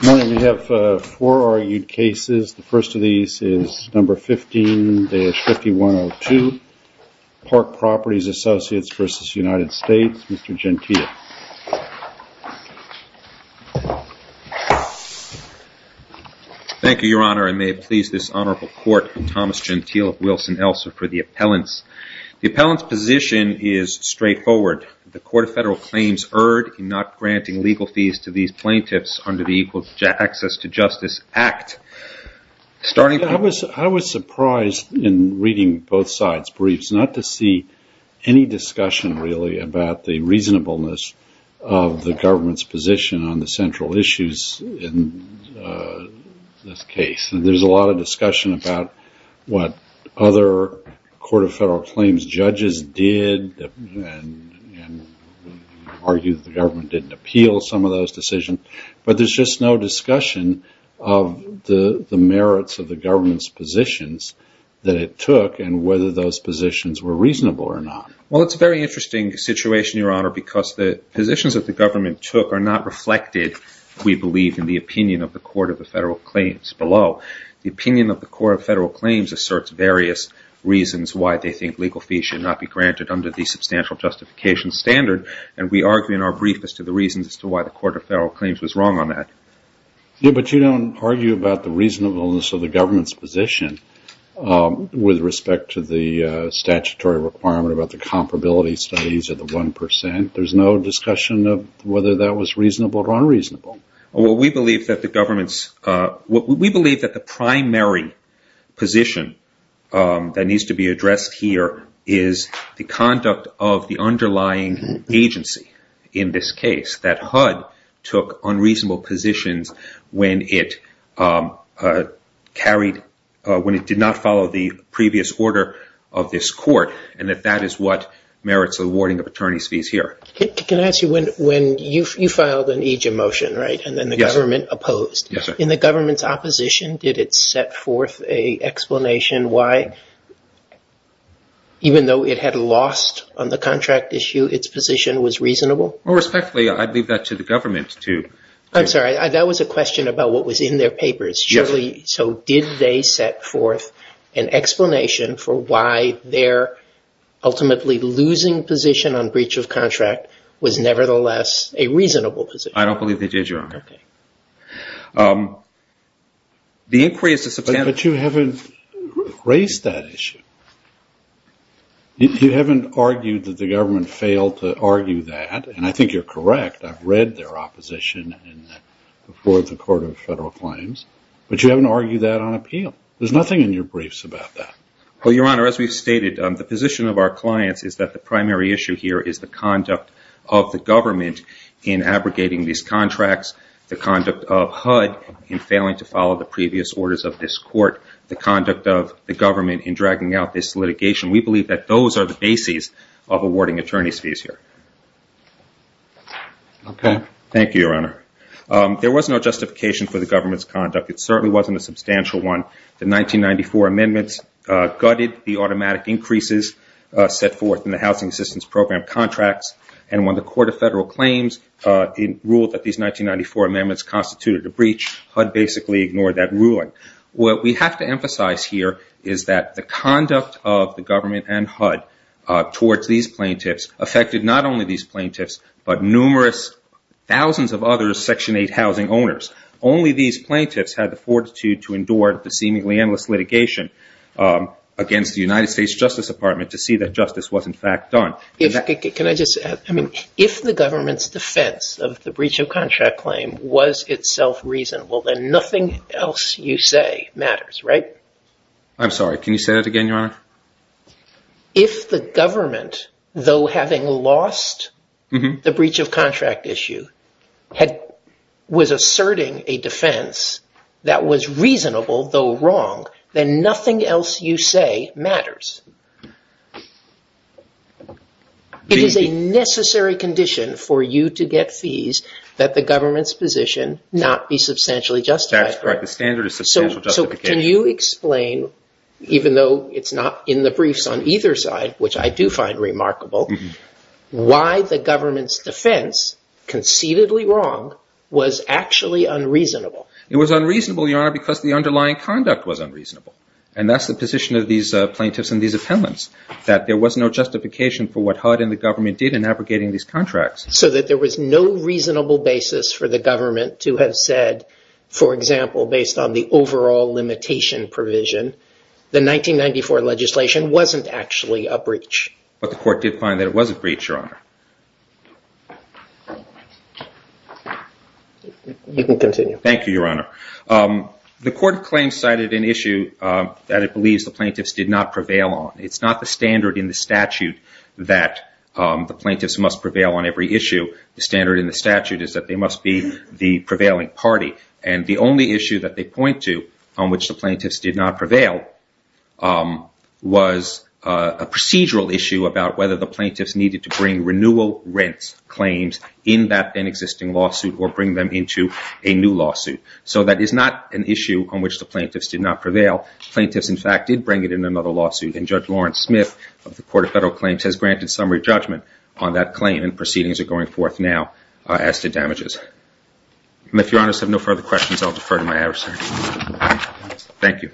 Good morning. We have four argued cases. The first of these is number 15-5102, Park Properties Associates v. United States. Mr. Gentile. Thank you, Your Honor, and may it please this Honorable Court, Thomas Gentile of Wilson-Elsa, for the appellants. The appellant's position is straightforward. The Court of Federal Claims erred in not granting legal fees to these plaintiffs under the Equal Access to Justice Act. I was surprised in reading both sides' briefs not to see any discussion really about the reasonableness of the government's position on the central issues in this case. There's a lot of discussion about what other Court of Federal Claims judges did and argued the government didn't appeal some of those decisions, but there's just no discussion of the merits of the government's positions that it took and whether those positions were reasonable or not. Well, it's a very interesting situation, Your Honor, because the positions that the government took are not reflected, we believe, in the opinion of the Court of Federal Claims below. The opinion of the Court of Federal Claims asserts various reasons why they think legal fees should not be granted under the Substantial Justification Standard, and we argue in our brief as to the reasons as to why the Court of Federal Claims was wrong on that. Yes, but you don't argue about the reasonableness of the government's position with respect to the statutory requirement about the comparability studies of the 1%. There's no discussion of whether that was reasonable or unreasonable. We believe that the primary position that needs to be addressed here is the conduct of the underlying agency in this case, that HUD took unreasonable positions when it did not follow the previous order of this court, and that that is what merits awarding of attorney's fees here. Can I ask you, you filed an EJIM motion, right, and then the government opposed. In the government's opposition, did it set forth an explanation why, even though it had lost on the contract issue, its position was reasonable? Well, respectfully, I'd leave that to the government to... I don't believe they did, Your Honor. Okay. The inquiry is to... But you haven't raised that issue. You haven't argued that the government failed to argue that, and I think you're correct. I've read their opposition before the Court of Federal Claims, but you haven't argued that on appeal. There's nothing in your briefs about that. Well, Your Honor, as we've stated, the position of our clients is that the primary issue here is the conduct of the government in abrogating these contracts, the conduct of HUD in failing to follow the previous orders of this court, the conduct of the government in dragging out this litigation. We believe that those are the bases of awarding attorney's fees here. Okay. Thank you, Your Honor. There was no justification for the government's conduct. It certainly wasn't a substantial one. The 1994 amendments gutted the automatic increases set forth in the Housing Assistance Program contracts, and when the Court of Federal Claims ruled that these 1994 amendments constituted a breach, HUD basically ignored that ruling. What we have to emphasize here is that the conduct of the government and HUD towards these plaintiffs affected not only these plaintiffs but numerous thousands of other Section 8 housing owners. Only these plaintiffs had the fortitude to endure the seemingly endless litigation against the United States Justice Department to see that justice was in fact done. If the government's defense of the breach of contract claim was itself reasonable, then nothing else you say matters, right? I'm sorry. Can you say that again, Your Honor? If the government, though having lost the breach of contract issue, was asserting a defense that was reasonable though wrong, then nothing else you say matters. It is a necessary condition for you to get fees that the government's position not be substantially justified. That's correct. The standard is substantial justification. Can you explain, even though it's not in the briefs on either side, which I do find remarkable, why the government's defense, conceitedly wrong, was actually unreasonable? It was unreasonable, Your Honor, because the underlying conduct was unreasonable, and that's the position of these plaintiffs in these appellants, that there was no justification for what HUD and the government did in abrogating these contracts. So that there was no reasonable basis for the government to have said, for example, based on the overall limitation provision, the 1994 legislation wasn't actually a breach. But the court did find that it was a breach, Your Honor. You can continue. Thank you, Your Honor. The court claims cited an issue that it believes the plaintiffs did not prevail on. It's not the standard in the statute that the plaintiffs must prevail on every issue. The standard in the statute is that they must be the prevailing party. And the only issue that they point to on which the plaintiffs did not prevail was a procedural issue about whether the plaintiffs needed to bring renewal rent claims in that then existing lawsuit or bring them into a new lawsuit. So that is not an issue on which the plaintiffs did not prevail. Plaintiffs, in fact, did bring it in another lawsuit. And Judge Lawrence Smith of the Court of Federal Claims has granted summary judgment on that claim, and proceedings are going forth now as to damages. And if Your Honors have no further questions, I'll defer to my adversary. Thank you.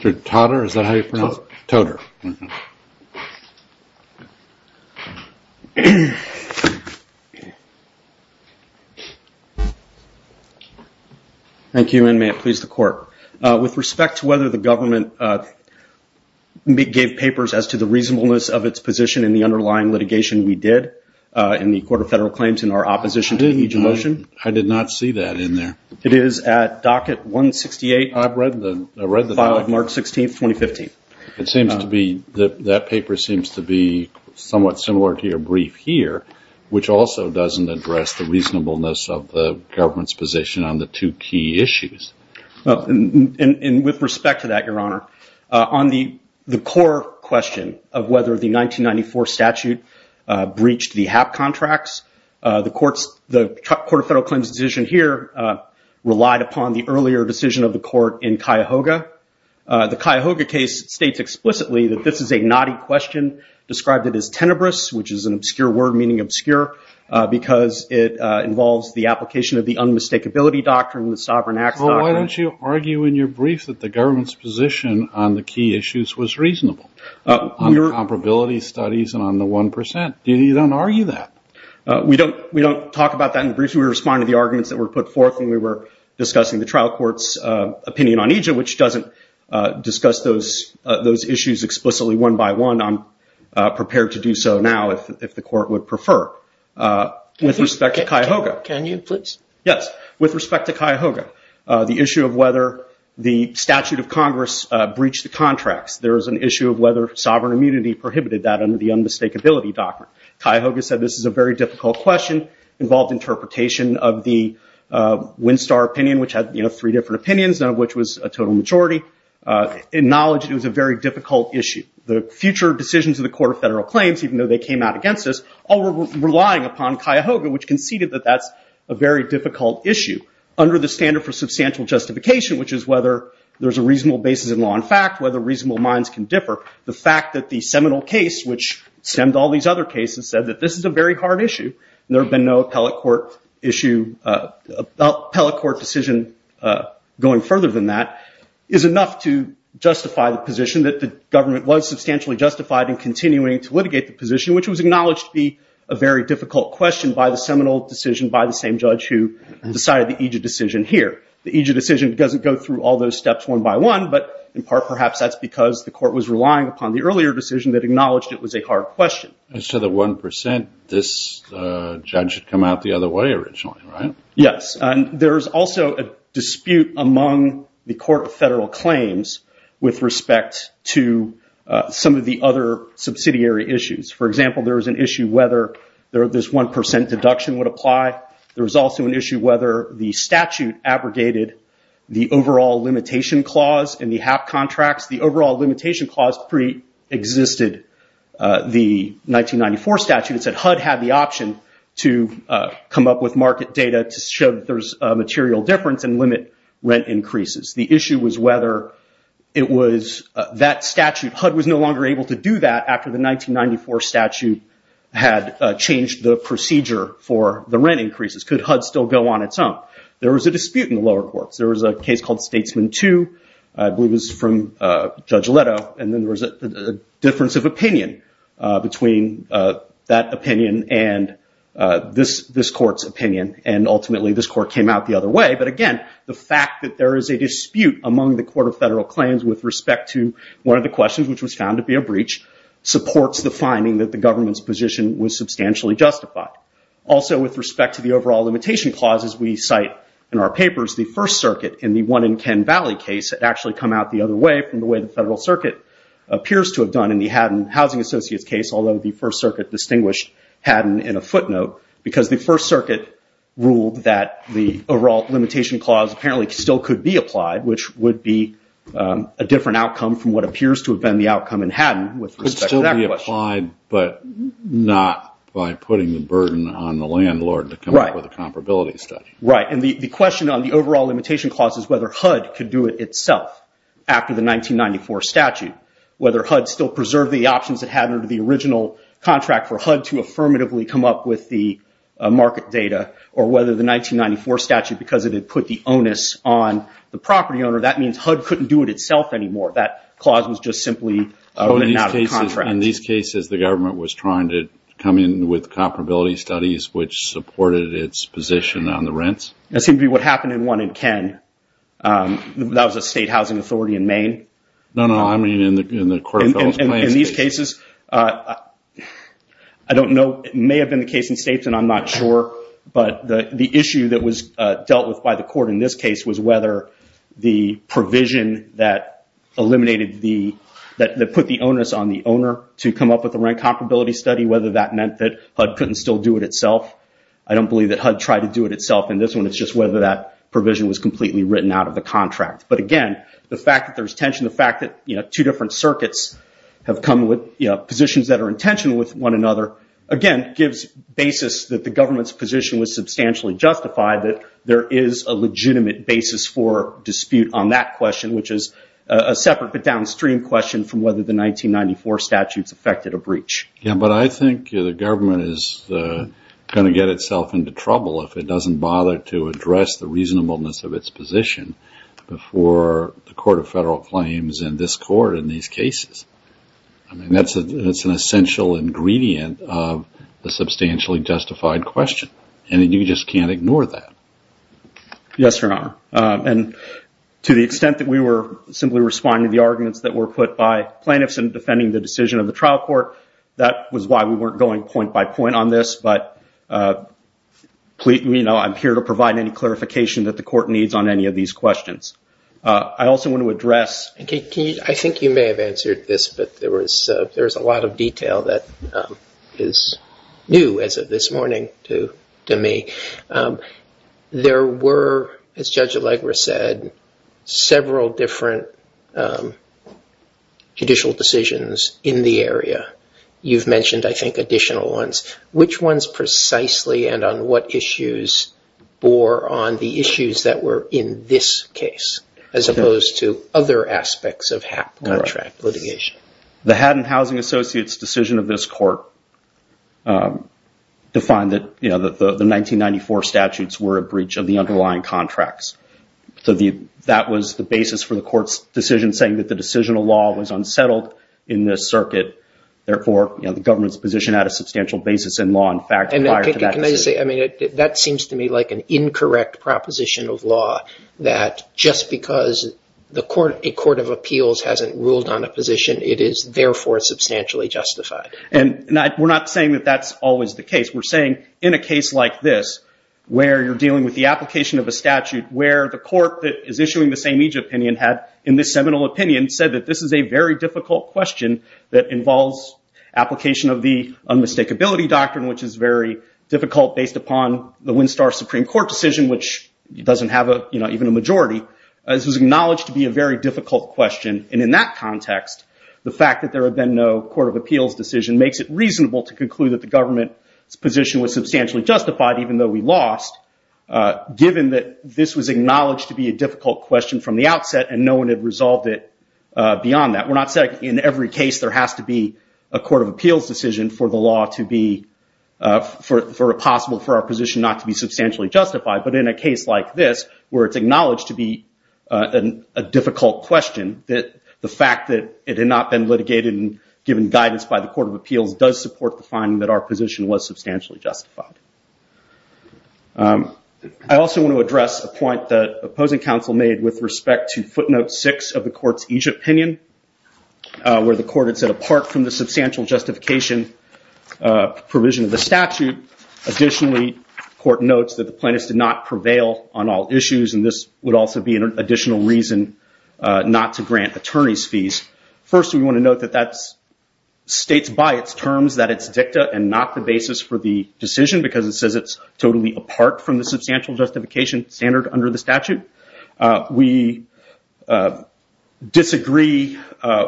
Mr. Totter, is that how you pronounce it? Totter. Thank you, and may it please the Court. With respect to whether the government gave papers as to the reasonableness of its position in the underlying litigation we did in the Court of Federal Claims in our opposition to the motion. I did not see that in there. It is at docket 168. I've read the document. Filed March 16, 2015. That paper seems to be somewhat similar to your brief here, which also doesn't address the reasonableness of the government's position on the two key issues. And with respect to that, Your Honor, on the core question of whether the 1994 statute breached the HAP contracts, the Court of Federal Claims decision here relied upon the earlier decision of the court in Cuyahoga. The Cuyahoga case states explicitly that this is a knotty question, described it as tenebrous, which is an obscure word meaning obscure, because it involves the application of the unmistakability doctrine, the sovereign acts doctrine. Well, why don't you argue in your brief that the government's position on the key issues was reasonable? On the comparability studies and on the 1%. You don't argue that. We don't talk about that in the brief. We respond to the arguments that were put forth when we were discussing the trial court's opinion on EJA, which doesn't discuss those issues explicitly one by one. I'm prepared to do so now if the court would prefer. With respect to Cuyahoga. Can you, please? Yes. With respect to Cuyahoga, the issue of whether the statute of Congress breached the contracts, there is an issue of whether sovereign immunity prohibited that under the unmistakability doctrine. Cuyahoga said this is a very difficult question, involved interpretation of the Winstar opinion, which had three different opinions, none of which was a total majority. Acknowledged it was a very difficult issue. The future decisions of the Court of Federal Claims, even though they came out against this, all were relying upon Cuyahoga, which conceded that that's a very difficult issue. Under the standard for substantial justification, which is whether there's a reasonable basis in law and fact, whether reasonable minds can differ, the fact that the seminal case, which stemmed all these other cases, said that this is a very hard issue. There had been no appellate court decision going further than that, is enough to justify the position that the government was substantially justified in continuing to litigate the position, which was acknowledged to be a very difficult question by the seminal decision by the same judge who decided the Egid decision here. The Egid decision doesn't go through all those steps one by one, but in part perhaps that's because the court was relying upon the earlier decision that acknowledged it was a hard question. So the 1%, this judge had come out the other way originally, right? Yes. There's also a dispute among the Court of Federal Claims with respect to some of the other subsidiary issues. For example, there was an issue whether this 1% deduction would apply. There was also an issue whether the statute abrogated the overall limitation clause in the HAP contracts. The overall limitation clause pre-existed the 1994 statute. It said HUD had the option to come up with market data to show there's a material difference and limit rent increases. The issue was whether it was that statute. HUD was no longer able to do that after the 1994 statute had changed the procedure for the rent increases. Could HUD still go on its own? There was a dispute in the lower courts. There was a case called Statesman 2. I believe it was from Judge Leto. And then there was a difference of opinion between that opinion and this court's opinion. And ultimately this court came out the other way. But again, the fact that there is a dispute among the Court of Federal Claims with respect to one of the questions, which was found to be a breach, supports the finding that the government's position was substantially justified. Also, with respect to the overall limitation clause, as we cite in our papers, the First Circuit in the one in Ken Valley case had actually come out the other way from the way the Federal Circuit appears to have done in the Haddon Housing Associates case, although the First Circuit distinguished Haddon in a footnote. Because the First Circuit ruled that the overall limitation clause apparently still could be applied, which would be a different outcome from what appears to have been the outcome in Haddon with respect to that question. But not by putting the burden on the landlord to come up with a comparability study. Right. And the question on the overall limitation clause is whether HUD could do it itself after the 1994 statute, whether HUD still preserved the options it had under the original contract for HUD to affirmatively come up with the market data, or whether the 1994 statute, because it had put the onus on the property owner, that means HUD couldn't do it itself anymore. That clause was just simply written out of the contract. In these cases, the government was trying to come in with comparability studies, which supported its position on the rents? That seemed to be what happened in one in Ken. That was a state housing authority in Maine. No, no, I mean in the Court of Federal Plans. In these cases, I don't know, it may have been the case in states and I'm not sure, but the issue that was dealt with by the Court in this case was whether the provision that eliminated the, that put the onus on the owner to come up with a rent comparability study, whether that meant that HUD couldn't still do it itself. I don't believe that HUD tried to do it itself in this one. It's just whether that provision was completely written out of the contract. But again, the fact that there's tension, the fact that two different circuits have come with positions that are in tension with one another, again, gives basis that the government's position was substantially justified, that there is a legitimate basis for dispute on that question, which is a separate but downstream question from whether the 1994 statutes affected a breach. Yeah, but I think the government is going to get itself into trouble if it doesn't bother to address the reasonableness of its position before the Court of Federal Claims and this Court in these cases. I mean, that's an essential ingredient of the substantially justified question. And you just can't ignore that. Yes, Your Honor. And to the extent that we were simply responding to the arguments that were put by plaintiffs in defending the decision of the trial court, that was why we weren't going point by point on this. But, you know, I'm here to provide any clarification that the Court needs on any of these questions. I also want to address... I think you may have answered this, but there is a lot of detail that is new as of this morning to me. There were, as Judge Allegra said, several different judicial decisions in the area. You've mentioned, I think, additional ones. Which ones precisely and on what issues bore on the issues that were in this case as opposed to other aspects of HAP contract litigation? The Haddon Housing Associates' decision of this court defined that the 1994 statutes were a breach of the underlying contracts. So that was the basis for the court's decision saying that the decisional law was unsettled in this circuit. Therefore, the government's position had a substantial basis in law in fact prior to that decision. And can I say, I mean, that seems to me like an incorrect proposition of law that just because a court of appeals hasn't ruled on a position, it is therefore substantially justified. And we're not saying that that's always the case. We're saying in a case like this, where you're dealing with the application of a statute, where the court that is issuing the same-age opinion had, in this seminal opinion, said that this is a very difficult question that involves application of the unmistakability doctrine, which is very difficult based upon the Winstar Supreme Court decision, which doesn't have even a majority. This was acknowledged to be a very difficult question. And in that context, the fact that there had been no court of appeals decision makes it reasonable to conclude that the government's position was substantially justified, even though we lost, given that this was acknowledged to be a difficult question from the outset and no one had resolved it beyond that. We're not saying in every case there has to be a court of appeals decision for the law to be, for a possible, for our position not to be substantially justified. But in a case like this, where it's acknowledged to be a difficult question, the fact that it had not been litigated and given guidance by the court of appeals does support the finding that our position was substantially justified. I also want to address a point that opposing counsel made with respect to footnote six of the court's each opinion, where the court had said, apart from the substantial justification provision of the statute, additionally, the court notes that the plaintiffs did not prevail on all issues. And this would also be an additional reason not to grant attorney's fees. First, we want to note that that states by its terms that it's dicta and not the basis for the decision, because it says it's totally apart from the substantial justification standard under the statute. We disagree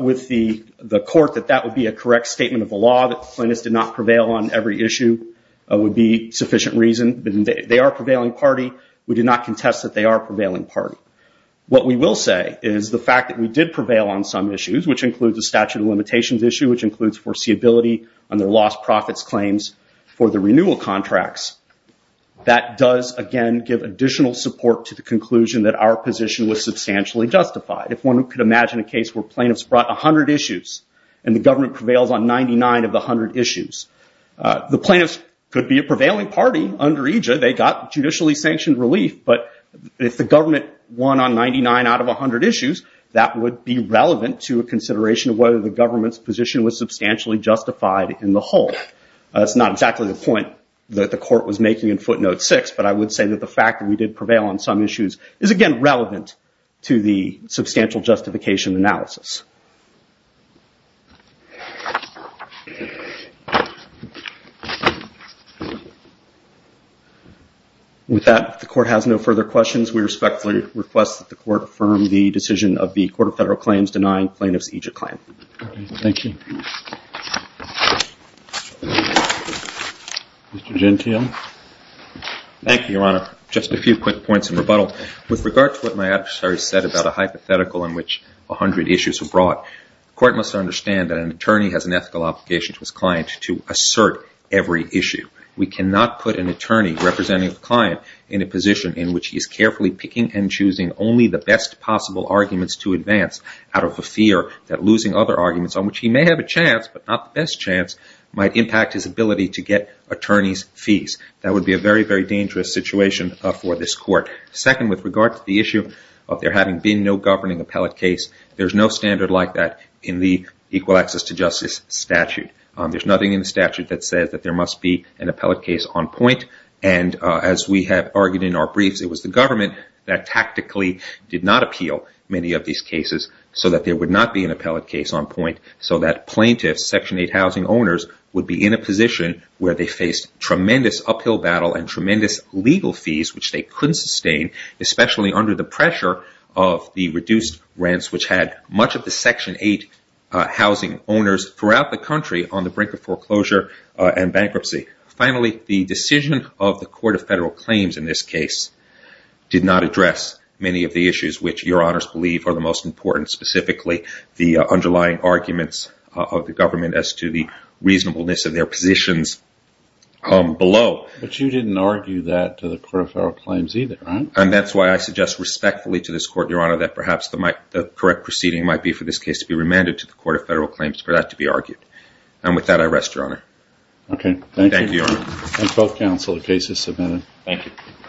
with the court that that would be a correct statement of the law, that the plaintiffs did not prevail on every issue would be sufficient reason. They are a prevailing party. We do not contest that they are a prevailing party. What we will say is the fact that we did prevail on some issues, which includes the statute of limitations issue, which includes foreseeability on their lost profits claims for the renewal contracts, that does, again, give additional support to the conclusion that our position was substantially justified. If one could imagine a case where plaintiffs brought 100 issues and the government prevails on 99 of the 100 issues, the plaintiffs could be a prevailing party under EJA. They got judicially sanctioned relief, but if the government won on 99 out of 100 issues, that would be relevant to a consideration of whether the government's position was substantially justified in the whole. That's not exactly the point that the court was making in footnote six, but I would say that the fact that we did prevail on some issues is, again, With that, if the court has no further questions, we respectfully request that the court affirm the decision of the Court of Federal Claims denying plaintiffs EJA claim. Thank you. Mr. Gentile. Thank you, Your Honor. Just a few quick points of rebuttal. With regard to what my adversary said about a hypothetical in which 100 issues were brought, the court must understand that an attorney has an ethical obligation to his client to assert every issue. We cannot put an attorney representing a client in a position in which he is carefully picking and choosing only the best possible arguments to advance out of a fear that losing other arguments, on which he may have a chance but not the best chance, might impact his ability to get attorney's fees. That would be a very, very dangerous situation for this court. Second, with regard to the issue of there having been no governing appellate case, there's no standard like that in the Equal Access to Justice statute. There's nothing in the statute that says that there must be an appellate case on point, and as we have argued in our briefs, it was the government that tactically did not appeal many of these cases so that there would not be an appellate case on point, so that plaintiffs, Section 8 housing owners, would be in a position where they faced tremendous uphill battle and tremendous legal fees, which they couldn't sustain, especially under the pressure of the reduced rents, which had much of the Section 8 housing owners throughout the country on the brink of foreclosure and bankruptcy. Finally, the decision of the Court of Federal Claims in this case did not address many of the issues which your honors believe are the most important, specifically the underlying arguments of the government as to the reasonableness of their positions below. But you didn't argue that to the Court of Federal Claims either, right? And that's why I suggest respectfully to this Court, your honor, that perhaps the correct proceeding might be for this case to be remanded to the Court of Federal Claims for that to be argued. And with that, I rest, your honor. Okay, thank you. Thank you, your honor. Thanks both counsel, the case is submitted. Thank you.